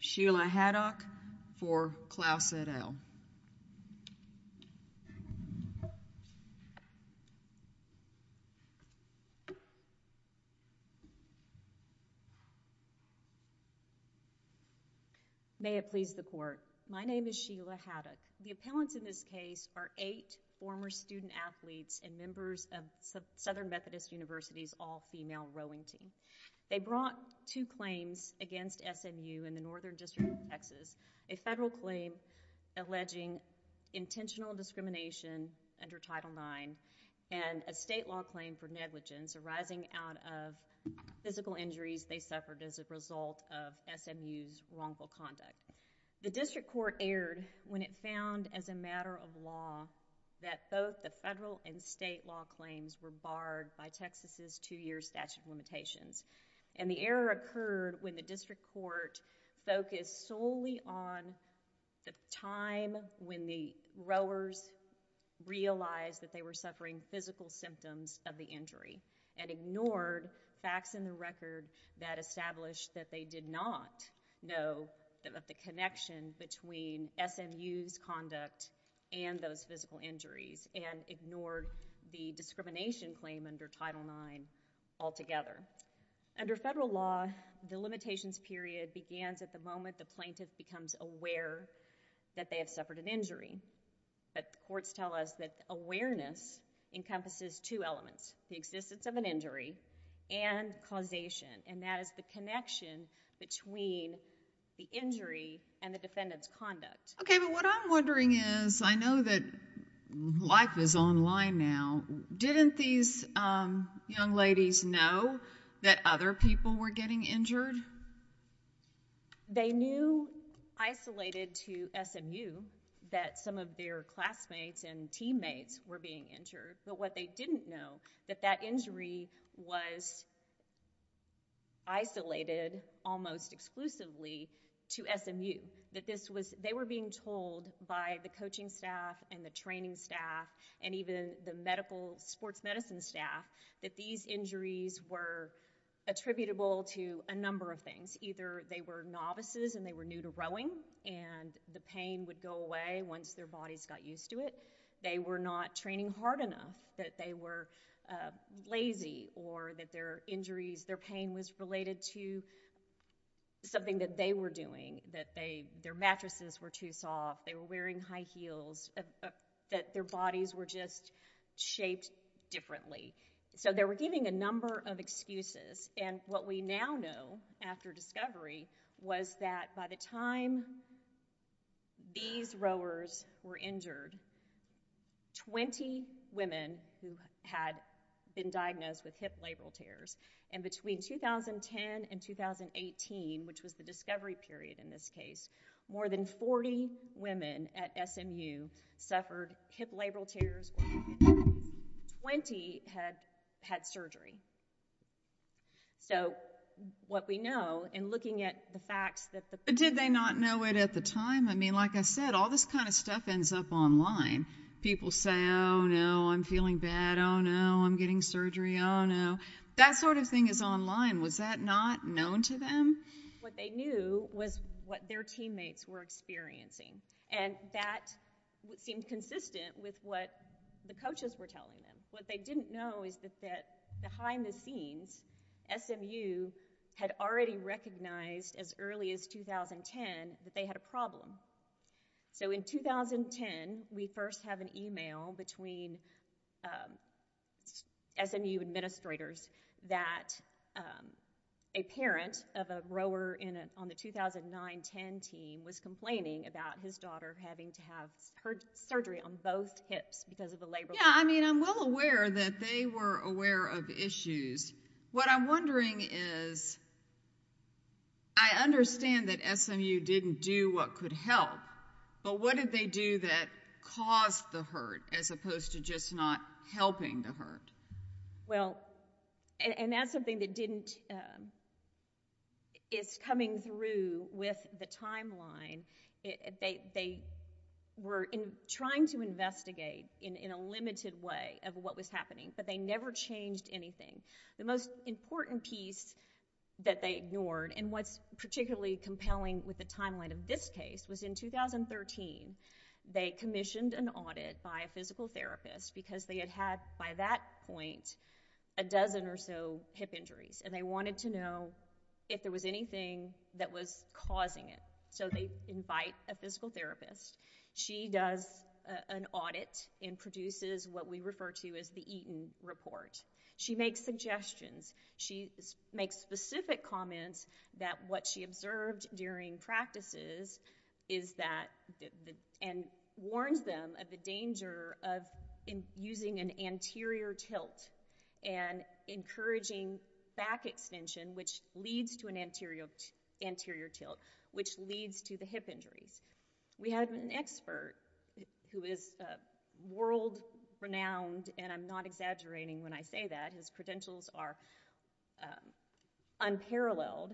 Sheila Haddock for Clouse et al. May it please the court, my name is Sheila Haddock. The appellants in this case are eight former student athletes and members of Southern Methodist University's all-female rowing team. They brought two claims against SMU in the Northern District of Texas, a federal claim alleging intentional discrimination under Title IX and a state law claim for negligence arising out of physical injuries they suffered as a result of SMU's wrongful conduct. The district court erred when it found, as a matter of law, that both the federal and state law claims were barred by Texas's two-year statute of limitations. And the error occurred when the district court focused solely on the time when the rowers realized that they were suffering physical symptoms of the injury and ignored facts in the record that established that they did not know of the connection between SMU's conduct and those physical injuries and ignored the discrimination claim under Title IX altogether. Under federal law, the limitations period begins at the moment the plaintiff becomes aware that they have suffered an injury. But courts tell us that awareness encompasses two elements, the existence of an injury and causation, and that is the connection between the injury and the defendant's conduct. Okay, but what I'm wondering is, I know that life is online now, didn't these young ladies know that other people were getting injured? They knew, isolated to SMU, that some of their classmates and teammates were being injured. But what they didn't know, that that injury was isolated almost exclusively to SMU. They were being told by the coaching staff and the training staff and even the medical sports medicine staff that these injuries were attributable to a number of things. Either they were novices and they were new to rowing and the pain would go away once their bodies got used to it. They were not training hard enough, that they were lazy or that their injuries, their pain was related to something that they were doing, that their mattresses were too soft, they were wearing high heels, that their bodies were just shaped differently. So they were giving a number of excuses and what we now know after discovery was that by the time these rowers were injured, 20 women who had been diagnosed with hip labral tears, and between 2010 and 2018, which was the discovery period in this case, more than 40 women at SMU suffered hip labral tears or hip injuries, 20 had had surgery. So what we know in looking at the facts that the... Did they not know it at the time? I mean, like I said, all this kind of stuff ends up online. People say, oh no, I'm feeling bad, oh no, I'm getting surgery, oh no. That sort of thing is online. Was that not known to them? What they knew was what their teammates were experiencing and that seemed consistent with what the coaches were telling them. What they didn't know is that behind the scenes, SMU had already recognized as early as 2010 that they had a problem. So in 2010, we first have an email between SMU administrators that a parent of a rower on the 2009-10 team was complaining about his daughter having to have her surgery on both hips because of the labral tears. Yeah, I mean, I'm well aware that they were aware of issues. What I'm wondering is, I understand that SMU didn't do what could help, but what did they do that caused the hurt as opposed to just not helping the hurt? Well, and that's something that didn't... It's coming through with the timeline. They were trying to investigate in a limited way of what was happening, but they never changed anything. The most important piece that they ignored and what's particularly compelling with the timeline of this case was in 2013, they commissioned an audit by a physical therapist because they had had by that point a dozen or so hip injuries and they wanted to know if there was anything that was causing it. So they invite a physical therapist. She does an audit and produces what we refer to as the Eaton Report. She makes suggestions. She makes specific comments that what she observed during practices is that... And warns them of the danger of using an anterior tilt and encouraging back extension, which leads to an anterior tilt, which leads to the hip injuries. We had an expert who is world-renowned, and I'm not exaggerating when I say that, his credentials are unparalleled,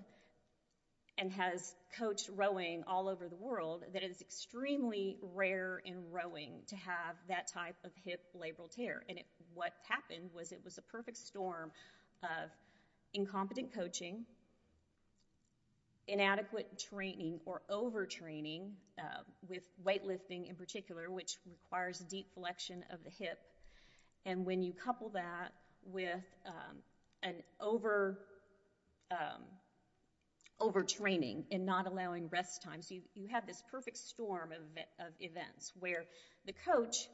and has coached rowing all over the world, that it is extremely rare in rowing to have that type of hip labral tear. And what happened was it was a perfect storm of incompetent coaching, inadequate training or overtraining, with weightlifting in particular, which requires deep flexion of the hip, and when you couple that with an overtraining and not allowing rest time, you have this perfect storm of events where the coach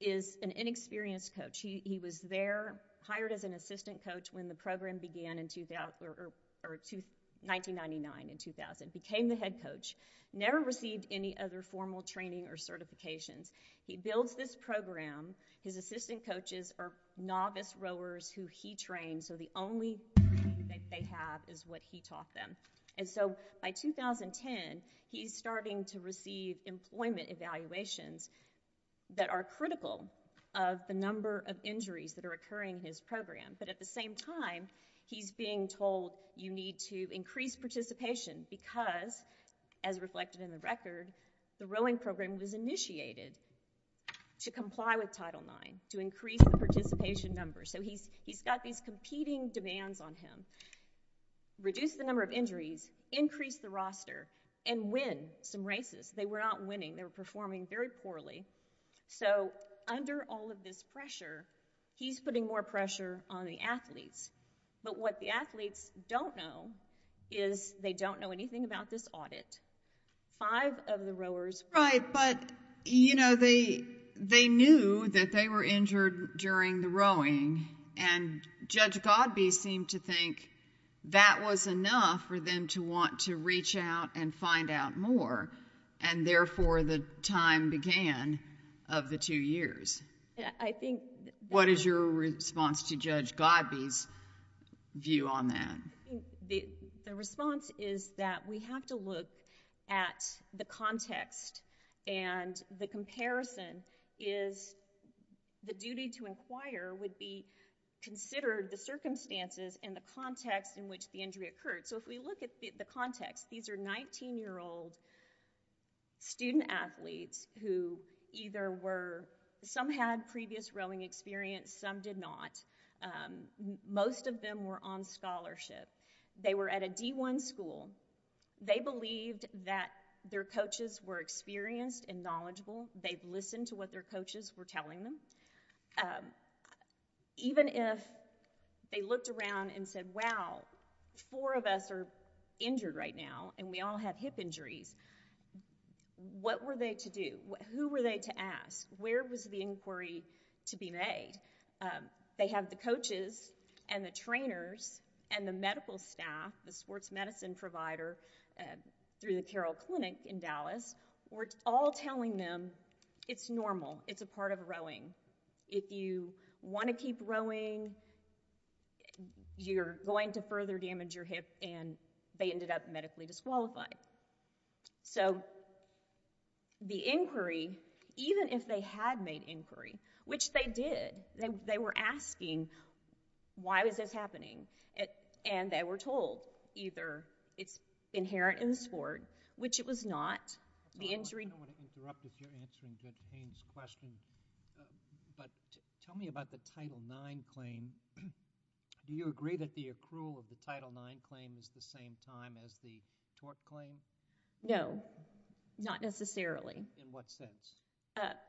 is an inexperienced coach. He was there, hired as an assistant coach when the program began in 1999 and 2000, became the head coach, never received any other formal training or certifications. He builds this program. His assistant coaches are novice rowers who he trained, so the only training that they have is what he taught them. And so by 2010, he's starting to receive employment evaluations that are critical of the number of injuries that are occurring in his program, but at the same time, he's being told, you need to increase participation because, as reflected in the record, the rowing program was initiated to comply with Title IX, to increase the participation number. So he's got these competing demands on him. Reduce the number of injuries, increase the roster, and win some races. They were not winning, they were performing very poorly. So under all of this pressure, he's putting more pressure on the athletes, but what the athletes don't know is they don't know anything about this audit. Five of the rowers were... Right, but you know, they knew that they were injured during the rowing, and Judge Godbee seemed to think that was enough for them to want to reach out and find out more, and therefore the time began of the two years. I think... What is your response to Judge Godbee's view on that? The response is that we have to look at the context, and the comparison is the duty to inquire would be considered the circumstances and the context in which the injury occurred. So if we look at the context, these are 19-year-old student athletes who either were... some had previous rowing experience, some did not. Most of them were on scholarship. They were at a D1 school. They believed that their coaches were experienced and knowledgeable. They listened to what their coaches were telling them. Even if they looked around and said, wow, four of us are injured right now, and we all have hip injuries, what were they to do? Who were they to ask? Where was the inquiry to be made? They have the coaches and the trainers and the medical staff, the sports medicine provider through the Carroll Clinic in Dallas, were all telling them it's normal. It's a part of rowing. If you want to keep rowing, you're going to further damage your hip, and they ended up medically disqualified. So the inquiry, even if they had made inquiry, which they did, they were asking, why was this happening? And they were told either it's inherent in the sport, which it was not, the injury... I don't want to interrupt if you're answering Judge Payne's question, but tell me about the Title IX claim. Do you agree that the accrual of the Title IX claim is the same time as the tort claim? No, not necessarily. In what sense?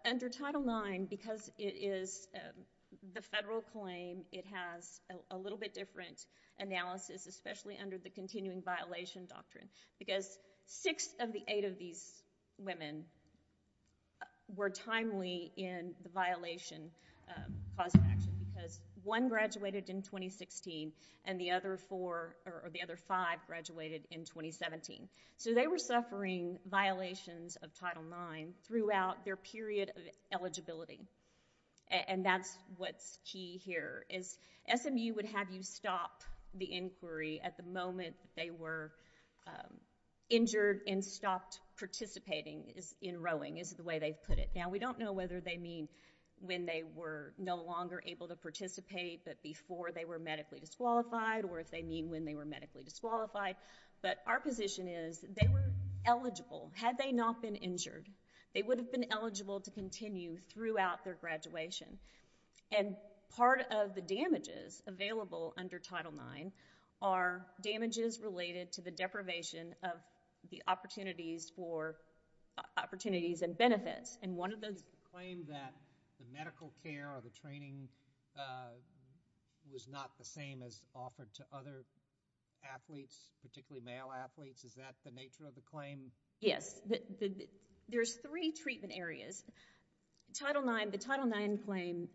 Under Title IX, because it is the federal claim, it has a little bit different analysis, especially under the continuing violation doctrine, because six of the eight of these women were timely in the violation cause of action, because one graduated in 2016, and the other four, or the other five, graduated in 2017. So they were suffering violations of Title IX throughout their period of eligibility, and that's what's key here, is SMU would have you stop the inquiry at the moment they were injured and stopped participating in rowing, is the way they've put it. Now, we don't know whether they mean when they were no longer able to participate, but before they were medically disqualified, or if they mean when they were medically disqualified, but our position is they were eligible. Had they not been injured, they would have been eligible to continue throughout their graduation, and part of the damages available under Title IX are damages related to the deprivation of the opportunities for, opportunities and benefits, and one of those- Claim that the medical care or the training was not the same as offered to other athletes, particularly male athletes, is that the nature of the claim? Yes, there's three treatment areas. Title IX, the Title IX claim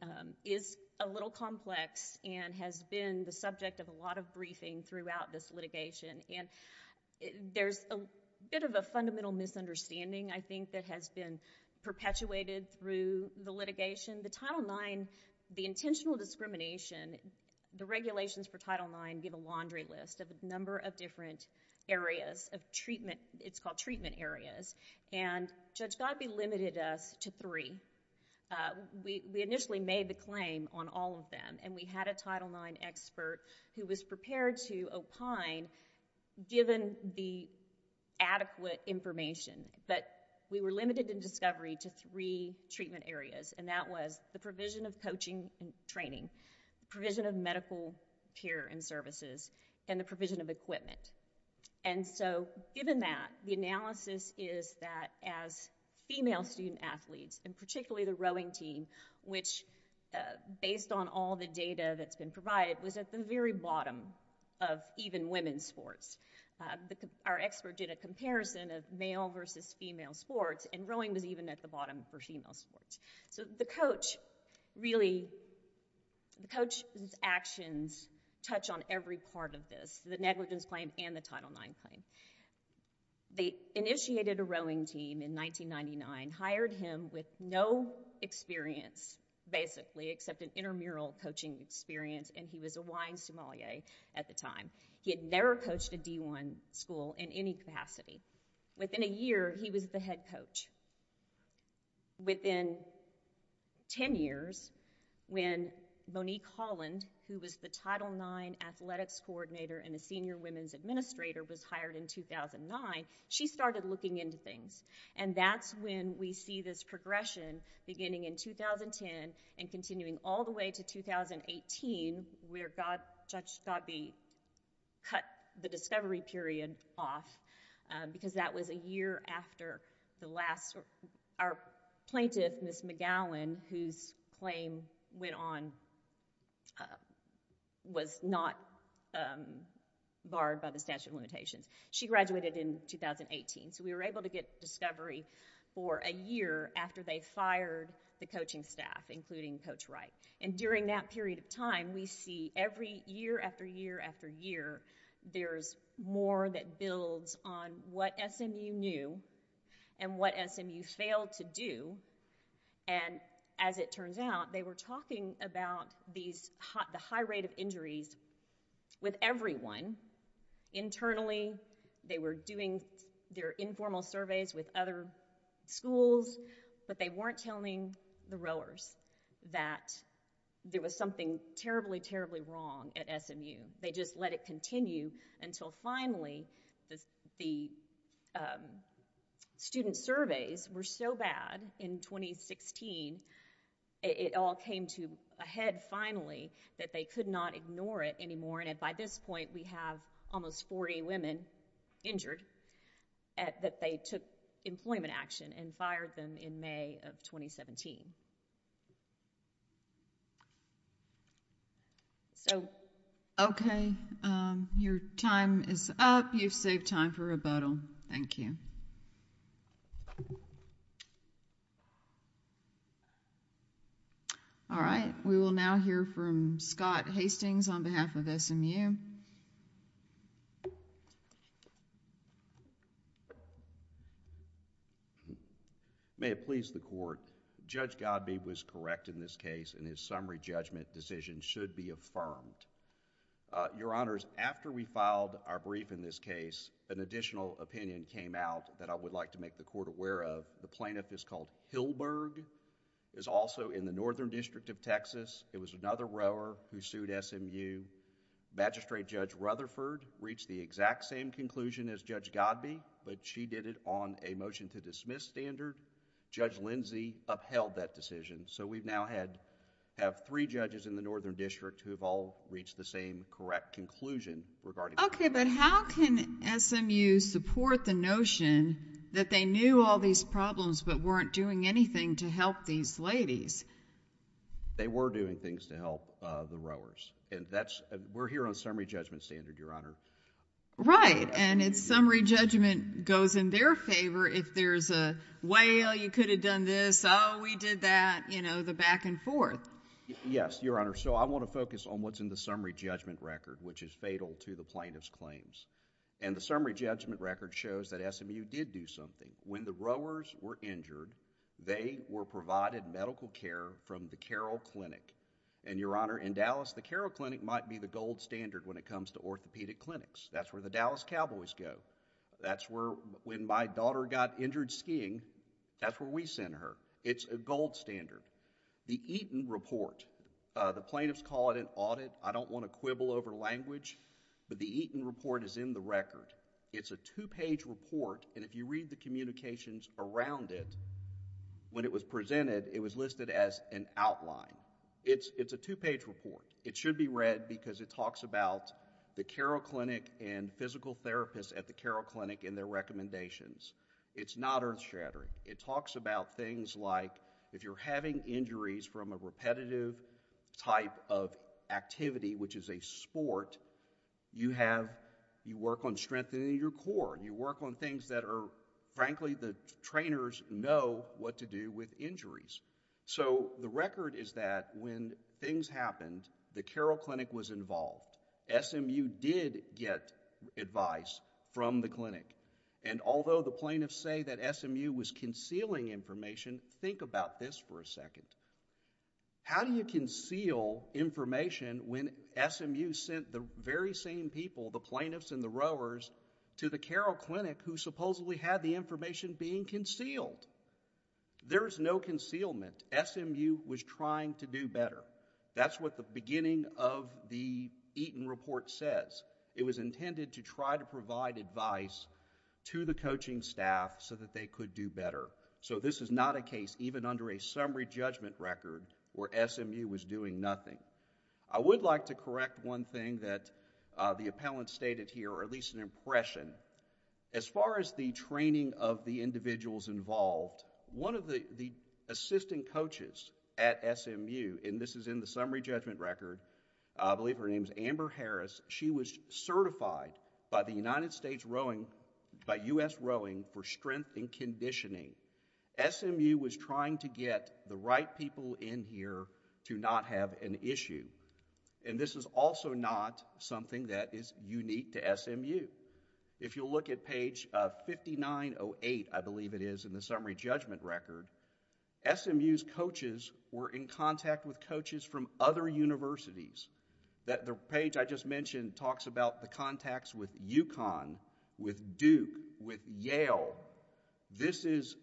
is a little complex, and has been the subject of a lot of briefing throughout this litigation, and there's a bit of a fundamental misunderstanding, I think, that has been perpetuated through the litigation. The Title IX, the intentional discrimination, the regulations for Title IX give a laundry list of a number of different areas of treatment, it's called treatment areas, and Judge Godbee limited us to three. We initially made the claim on all of them, and we had a Title IX expert who was prepared to opine given the adequate information, but we were limited in discovery to three treatment areas, and that was the provision of coaching and training, provision of medical care and services, and the provision of equipment, and so given that, the analysis is that as female student athletes, and particularly the rowing team, which based on all the data that's been provided, was at the very bottom of even women's sports. Our expert did a comparison of male versus female sports, and rowing was even at the bottom for female sports. So the coach really, the coach's actions touch on every part of this, the negligence claim and the Title IX claim. They initiated a rowing team in 1999, hired him with no experience, basically, except an intramural coaching experience, and he was a wine sommelier at the time. He had never coached a D1 school in any capacity. Within a year, he was the head coach. Within 10 years, when Monique Holland, who was the Title IX athletics coordinator and a senior women's administrator, was hired in 2009, she started looking into things, and that's when we see this progression beginning in 2010 and continuing all the way to 2018, where Judge Godby cut the discovery period off, because that was a year after the last – our plaintiff, Ms. McGowan, whose claim went on, was not barred by the statute of limitations. She graduated in 2018, so we were able to get discovery for a year after they fired the coaching staff, including Coach Wright, and during that period of time, we see every year after year after year, there's more that builds on what SMU knew and what SMU failed to do, and as it turns out, they were talking about the high rate of injuries with everyone internally. They were doing their informal surveys with other schools, but they weren't telling the rowers that there was something terribly, terribly wrong at SMU. They just let it continue until finally the student surveys were so bad in 2016, it all came to a head finally, that they could not ignore it anymore, and by this point, we have almost 40 women injured that they took employment action and fired them in May of 2017. So – Your time is up. You've saved time for rebuttal. Thank you. All right, we will now hear from Scott Hastings on behalf of SMU. May it please the Court. Judge Godbee was correct in this case, and his summary judgment decision should be affirmed. Your Honors, after we filed our brief in this case, an additional opinion came out that I would like to make the Court aware of. The plaintiff is called Hillberg, is also in the Northern District of Texas. It was another rower who sued SMU. Magistrate Judge Rutherford reached the exact same conclusion as Judge Godbee, but she did it on a motion to dismiss standard. Judge Lindsey upheld that decision. So we now have three judges in the Northern District who have all reached the same correct conclusion regarding... Okay, but how can SMU support the notion that they knew all these problems, but weren't doing anything to help these ladies? They were doing things to help the rowers, and that's... we're here on summary judgment standard, Your Honor. Right, and summary judgment goes in their favor. If there's a whale, you could have done this, oh, we did that, you know, the back and forth. Yes, Your Honor, so I want to focus on what's in the summary judgment record, which is fatal to the plaintiff's claims. And the summary judgment record shows that SMU did do something. When the rowers were injured, they were provided medical care from the Carroll Clinic. And Your Honor, in Dallas, the Carroll Clinic might be the gold standard when it comes to orthopedic clinics. That's where the Dallas Cowboys go. That's where, when my daughter got injured skiing, that's where we send her. It's a gold standard. The Eaton Report, the plaintiffs call it an audit. I don't want to quibble over language, but the Eaton Report is in the record. It's a two-page report, and if you read the communications around it, when it was presented, it was listed as an outline. It's a two-page report. It should be read because it talks about the Carroll Clinic and physical therapists at the Carroll Clinic and their recommendations. It's not earth-shattering. It talks about things like, if you're having injuries from a repetitive type of activity, which is a sport, you have, you work on strengthening your core. You work on things that are, frankly, the trainers know what to do with injuries. So the record is that when things happened, the Carroll Clinic was involved. SMU did get advice from the clinic, and although the plaintiffs say that SMU was concealing information, think about this for a second. How do you conceal information when SMU sent the very same people, the plaintiffs and the rowers, to the Carroll Clinic who supposedly had the information being concealed? There is no concealment. SMU was trying to do better. That's what the beginning of the Eaton Report says. It was intended to try to provide advice to the coaching staff so that they could do better. So this is not a case, even under a summary judgment record, where SMU was doing nothing. I would like to correct one thing that the appellant stated here, or at least an impression. As far as the training of the individuals involved, one of the assistant coaches at SMU, and this is in the summary judgment record, I believe her name is Amber Harris, she was certified by the United States Rowing, by U.S. Rowing for strength and conditioning. SMU was trying to get the right people in here to not have an issue, and this is also not something that is unique to SMU. If you look at page 5908, I believe it is, in the summary judgment record, SMU's coaches were in contact with coaches from other universities. That page I just mentioned talks about the contacts with UConn, with Duke, with Yale. This is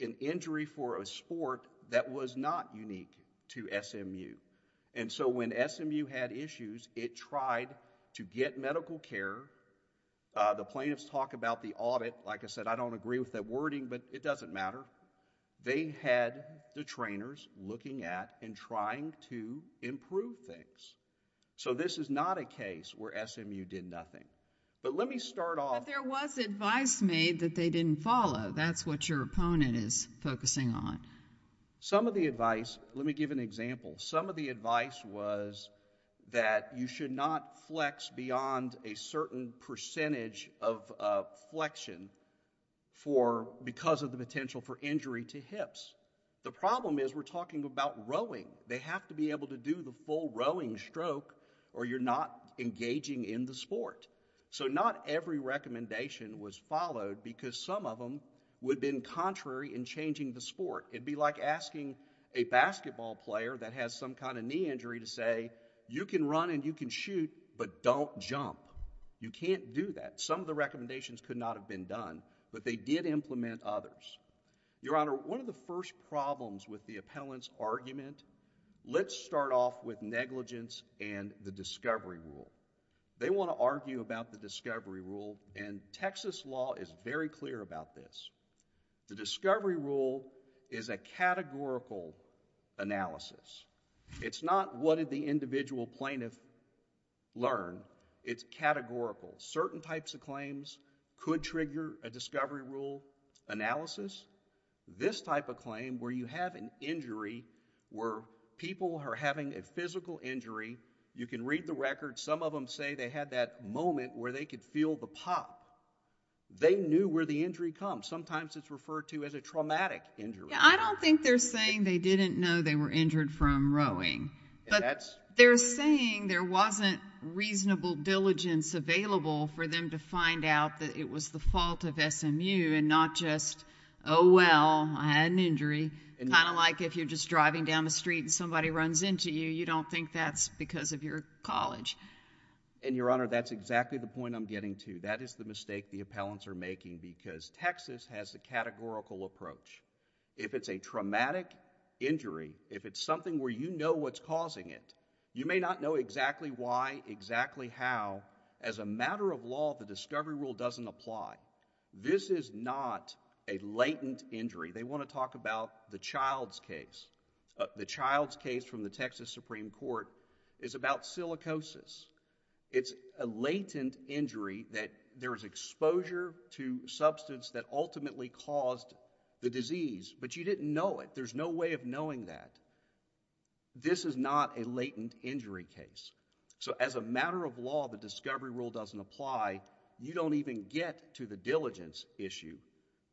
an injury for a sport that was not unique to SMU. And so when SMU had issues, it tried to get medical care. The plaintiffs talk about the audit. Like I said, I don't agree with that wording, but it doesn't matter. They had the trainers looking at and trying to improve things. So this is not a case where SMU did nothing. But let me start off... But there was advice made that they didn't follow. That's what your opponent is focusing on. Some of the advice, let me give an example, some of the advice was that you should not flex beyond a certain percentage of flexion because of the potential for injury to hips. The problem is we're talking about rowing. They have to be able to do the full rowing stroke or you're not engaging in the sport. So not every recommendation was followed because some of them would have been contrary in changing the sport. It would be like asking a basketball player that has some kind of knee injury to say, you can run and you can shoot, but don't jump. You can't do that. Some of the recommendations could not have been done, but they did implement others. Your Honor, one of the first problems with the appellant's argument, let's start off with negligence and the discovery rule. They want to argue about the discovery rule, and Texas law is very clear about this. The discovery rule is a categorical analysis. It's not what did the individual plaintiff learn. It's categorical. Certain types of claims could trigger a discovery rule analysis. This type of claim where you have an injury where people are having a physical injury, you can read the record, some of them say they had that moment where they could feel the pop. They knew where the injury comes. Sometimes it's referred to as a traumatic injury. I don't think they're saying they didn't know they were injured from rowing, but they're saying there wasn't reasonable diligence available for them to find out that it was the fault of SMU and not just, oh, well, I had an injury, kind of like if you're just driving down the street and somebody runs into you, you don't think that's because of your college. And Your Honor, that's exactly the point I'm getting to. That is the mistake the appellants are making because Texas has a categorical approach. If it's a traumatic injury, if it's something where you know what's causing it, you may not know exactly why, exactly how. As a matter of law, the discovery rule doesn't apply. This is not a latent injury. They want to talk about the Child's case. The Child's case from the Texas Supreme Court is about silicosis. It's a latent injury that there's exposure to substance that ultimately caused the disease, but you didn't know it. There's no way of knowing that. This is not a latent injury case. So as a matter of law, the discovery rule doesn't apply. You don't even get to the diligence issue.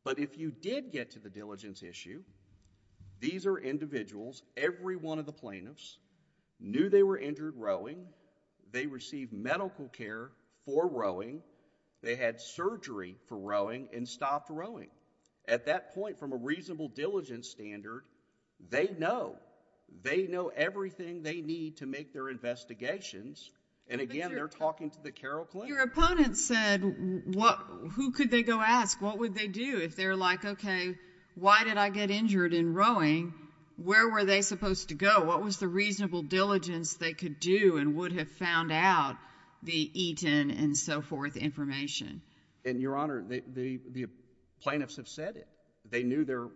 But if you did get to the diligence issue, these are individuals, every one of the plaintiffs knew they were injured rowing, they received medical care for rowing, they had surgery for rowing, and stopped rowing. At that point, from a reasonable diligence standard, they know. They know everything they need to make their investigations, and again, they're talking to the Carroll Clinic. Your opponent said, who could they go ask? What would they do if they're like, okay, why did I get injured in rowing? Where were they supposed to go? What was the reasonable diligence they could do and would have found out the Eaton and so forth information? And Your Honor, the plaintiffs have said it. They knew their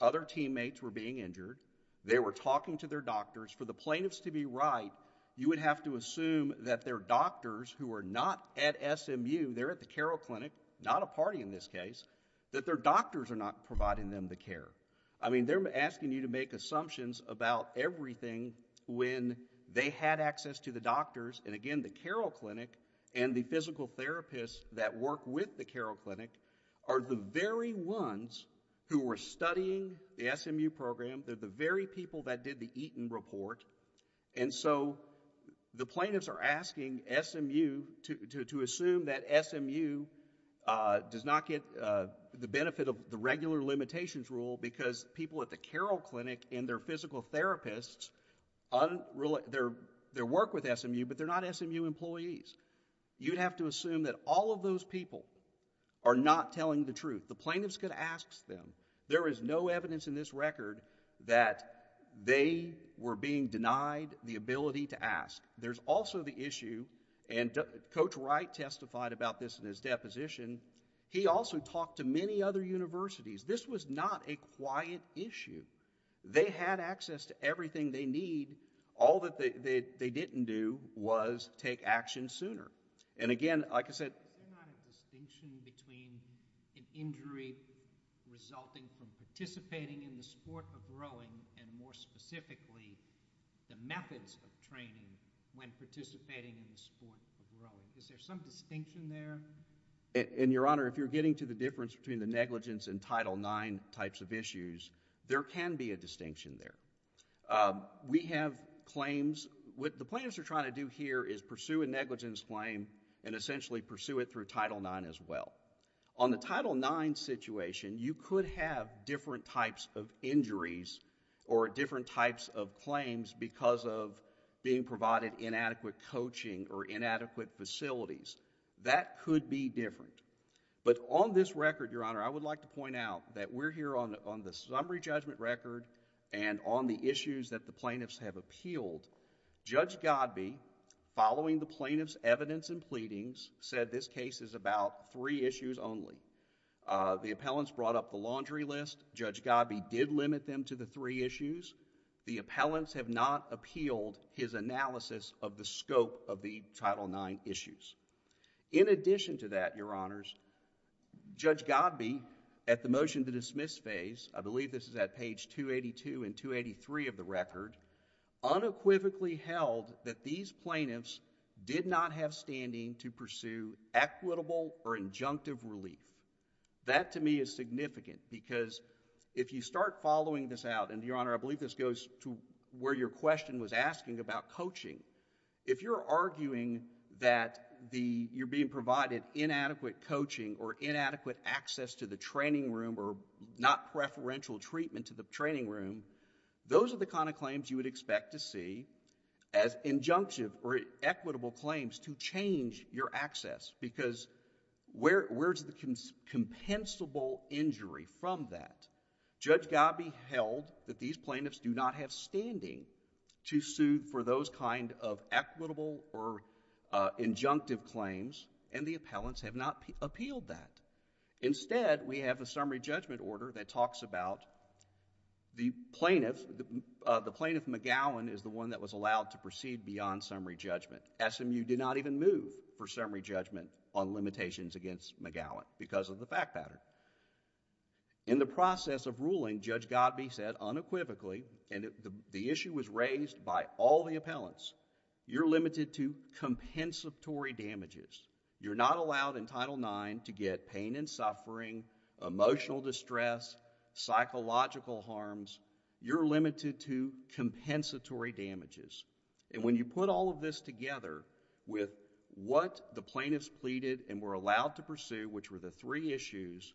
other teammates were being injured. They were talking to their doctors. For the plaintiffs to be right, you would have to assume that their doctors, who are not at SMU, they're at the Carroll Clinic, not a party in this case, that their doctors are not providing them the care. I mean, they're asking you to make assumptions about everything when they had access to the doctors, and again, the Carroll Clinic and the physical therapists that work with the Carroll Clinic are the very ones who were studying the SMU program. They're the very people that did the Eaton report. And so, the plaintiffs are asking SMU to assume that SMU does not get the benefit of the regular limitations rule because people at the Carroll Clinic and their physical therapists, their work with SMU, but they're not SMU employees. You'd have to assume that all of those people are not telling the truth. The plaintiff's going to ask them. There is no evidence in this record that they were being denied the ability to ask. There's also the issue, and Coach Wright testified about this in his deposition, he also talked to many other universities. This was not a quiet issue. They had access to everything they need. All that they didn't do was take action sooner. And again, like I said... Is there not a distinction between an injury resulting from participating in the sport of rowing and more specifically, the methods of training when participating in the sport of rowing? Is there some distinction there? In your honor, if you're getting to the difference between the negligence and Title IX types of issues, there can be a distinction there. We have claims... What the plaintiffs are trying to do here is pursue a negligence claim and essentially pursue it through Title IX as well. On the Title IX situation, you could have different types of injuries or different types of claims because of being provided inadequate coaching or inadequate facilities. That could be different. But on this record, your honor, I would like to point out that we're here on the summary judgment record and on the issues that the plaintiffs have appealed. Judge Godbee, following the plaintiff's evidence and pleadings, said this case is about three issues only. The appellants brought up the laundry list. Judge Godbee did limit them to the three issues. The appellants have not appealed his analysis of the scope of the Title IX issues. In addition to that, your honors, Judge Godbee, at the motion to dismiss phase, I believe this is at page 282 and 283 of the record, unequivocally held that these plaintiffs did not have standing to pursue equitable or injunctive relief. That to me is significant because if you start following this out, and your honor, I believe this goes to where your question was asking about coaching. If you're arguing that you're being provided inadequate coaching or inadequate access to the training room or not preferential treatment to the training room, those are the kind of claims you would expect to see as injunctive or equitable claims to change your access because where's the compensable injury from that? Judge Godbee held that these plaintiffs do not have standing to sue for those kind of equitable or injunctive claims and the appellants have not appealed that. Instead, we have a summary judgment order that talks about the plaintiff, the plaintiff McGowan is the one that was allowed to proceed beyond summary judgment. SMU did not even move for summary judgment on limitations against McGowan because of the fact pattern. In the process of ruling, Judge Godbee said unequivocally and the issue was raised by all the appellants, you're limited to compensatory damages. You're not allowed in Title IX to get pain and suffering, emotional distress, psychological harms, you're limited to compensatory damages. When you put all of this together with what the plaintiffs pleaded and were allowed to sue which were the three issues,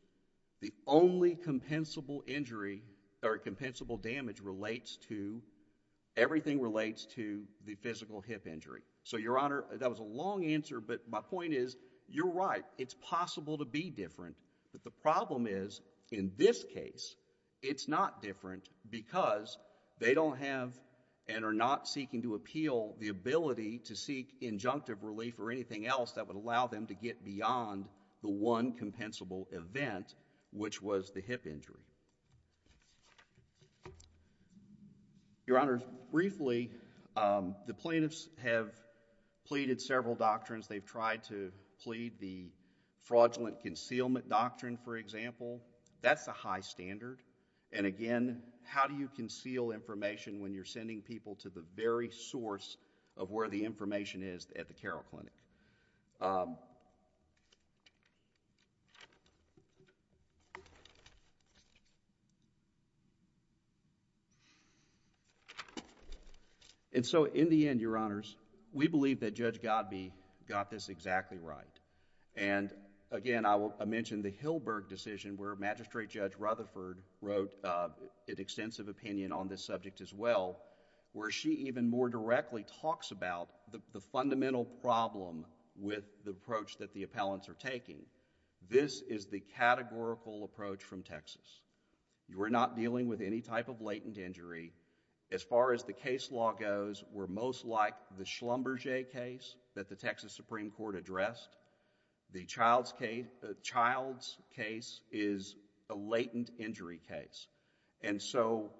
the only compensable injury or compensable damage relates to, everything relates to the physical hip injury. So Your Honor, that was a long answer but my point is, you're right, it's possible to be different but the problem is in this case, it's not different because they don't have and are not seeking to appeal the ability to seek injunctive relief or anything else that would allow them to get beyond the one compensable event which was the hip injury. Your Honor, briefly, the plaintiffs have pleaded several doctrines. They've tried to plead the fraudulent concealment doctrine for example. That's a high standard and again, how do you conceal information when you're sending people to the very source of where the information is at the Carroll Clinic? And so in the end, Your Honors, we believe that Judge Godbee got this exactly right and again I mentioned the Hilberg decision where Magistrate Judge Rutherford wrote an extensive opinion on this subject as well where she even more directly talks about the fundamental problem with the approach that the appellants are taking. This is the categorical approach from Texas. You are not dealing with any type of latent injury. As far as the case law goes, we're most like the Schlumberger case that the Texas Supreme Court addressed. The child's case is a latent injury case. And so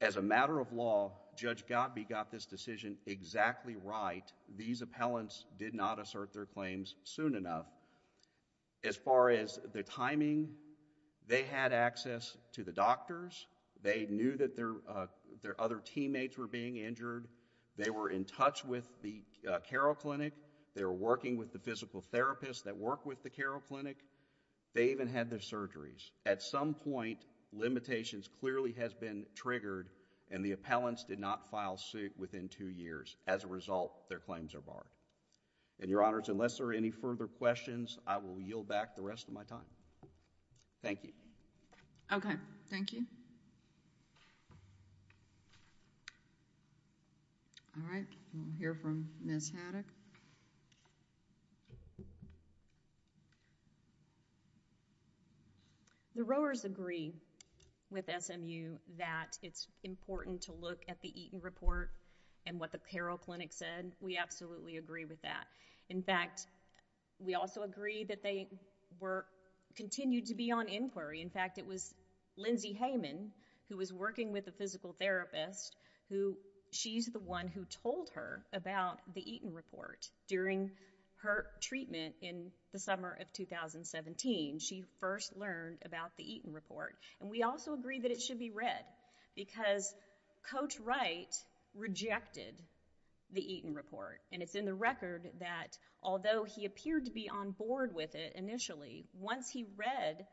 as a matter of law, Judge Godbee got this decision exactly right. These appellants did not assert their claims soon enough. As far as the timing, they had access to the doctors. They knew that their other teammates were being injured. They were in touch with the Carroll Clinic. They were working with the physical therapists that work with the Carroll Clinic. They even had their surgeries. At some point, limitations clearly has been triggered and the appellants did not file suit within two years. As a result, their claims are barred. And Your Honors, unless there are any further questions, I will yield back the rest of my time. Thank you. Okay. Thank you. All right. We'll hear from Ms. Haddock. Ms. Haddock. The Rowers agree with SMU that it's important to look at the Eaton Report and what the Carroll Clinic said. We absolutely agree with that. In fact, we also agree that they were—continued to be on inquiry. In fact, it was Lindsey Heyman who was working with the physical therapist who—she's the one who told her about the Eaton Report during her treatment in the summer of 2017. She first learned about the Eaton Report. And we also agree that it should be read because Coach Wright rejected the Eaton Report. And it's in the record that although he appeared to be on board with it initially, once he read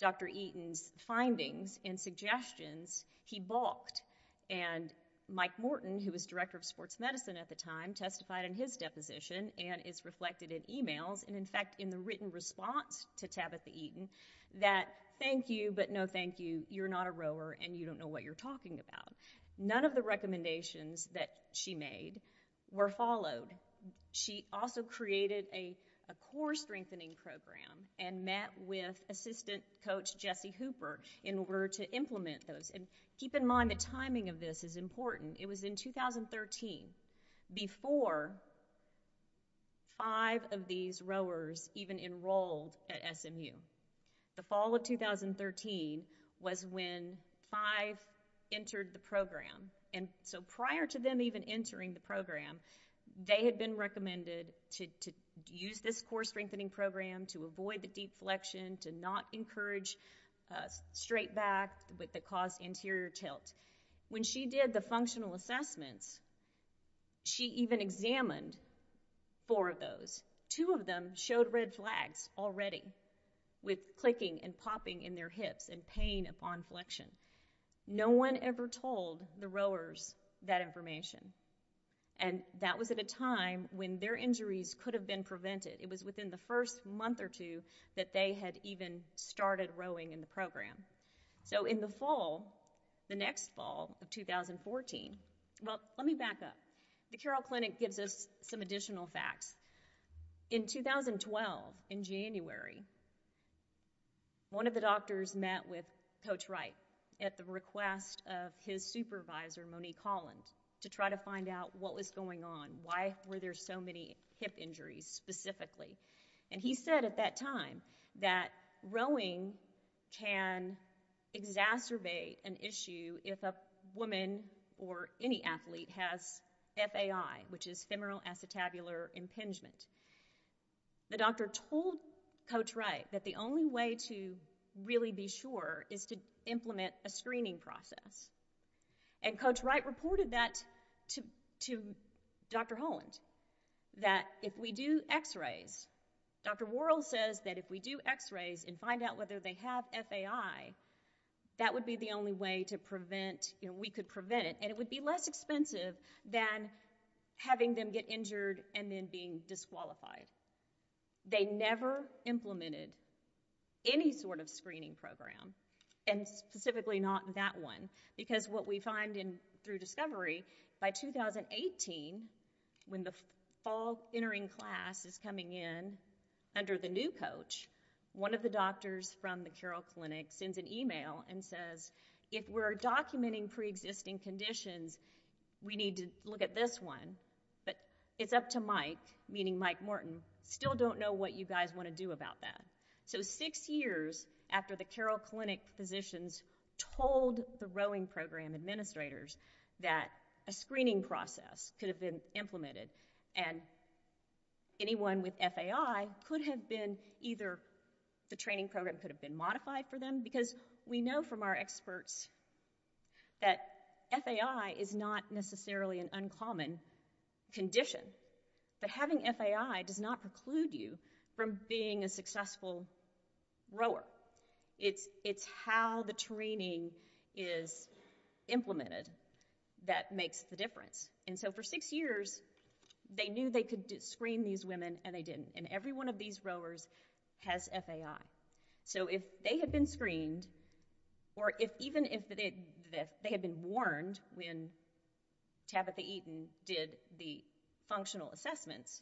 Dr. Eaton's findings and suggestions, he balked. And Mike Morton, who was director of sports medicine at the time, testified in his deposition and is reflected in emails and, in fact, in the written response to Tabitha Eaton that thank you, but no thank you, you're not a rower and you don't know what you're talking about. None of the recommendations that she made were followed. She also created a core strengthening program and met with assistant coach Jesse Hooper in order to implement those. And keep in mind the timing of this is important. It was in 2013 before five of these rowers even enrolled at SMU. The fall of 2013 was when five entered the program. And so prior to them even entering the program, they had been recommended to use this core strengthening program to avoid the deflection, to not encourage straight back that caused interior tilt. When she did the functional assessments, she even examined four of those. Two of them showed red flags already with clicking and popping in their hips and pain upon flexion. No one ever told the rowers that information. And that was at a time when their injuries could have been prevented. It was within the first month or two that they had even started rowing in the program. So in the fall, the next fall of 2014, well let me back up. The Carroll Clinic gives us some additional facts. In 2012, in January, one of the doctors met with Coach Wright at the request of his supervisor Monique Holland to try to find out what was going on. Why were there so many hip injuries specifically? And he said at that time that rowing can exacerbate an issue if a woman or any athlete has FAI, which is femoral acetabular impingement. The doctor told Coach Wright that the only way to really be sure is to implement a screening process. And Coach Wright reported that to Dr. Holland, that if we do x-rays, Dr. Worrell says that if we do x-rays and find out whether they have FAI, that would be the only way to prevent, we could prevent it. And it would be less expensive than having them get injured and then being disqualified. They never implemented any sort of screening program, and specifically not that one. Because what we find through discovery, by 2018, when the fall entering class is coming in under the new coach, one of the doctors from the Carroll Clinic sends an email and says if we're documenting pre-existing conditions, we need to look at this one, but it's up to Mike Morton, still don't know what you guys want to do about that. So six years after the Carroll Clinic physicians told the rowing program administrators that a screening process could have been implemented and anyone with FAI could have been either the training program could have been modified for them, because we know from our experts that FAI is not necessarily an uncommon condition, but having FAI does not preclude you from being a successful rower. It's how the training is implemented that makes the difference. And so for six years, they knew they could screen these women and they didn't. And every one of these rowers has FAI. So if they had been screened, or even if they had been warned when Tabitha Eaton did the functional assessments,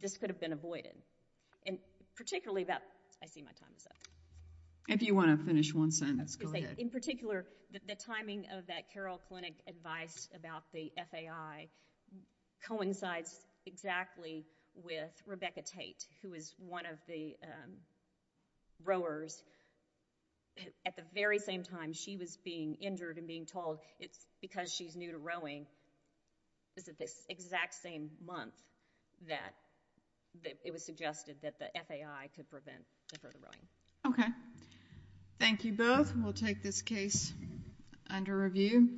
this could have been avoided. And particularly about, I see my time is up. If you want to finish one sentence, go ahead. In particular, the timing of that Carroll Clinic advice about the FAI coincides exactly with Rebecca Tate, who is one of the rowers. At the very same time she was being injured and being told it's because she's new to rowing, is at this exact same month that it was suggested that the FAI could prevent the further rowing. Okay. Thank you both. We'll take this case under review.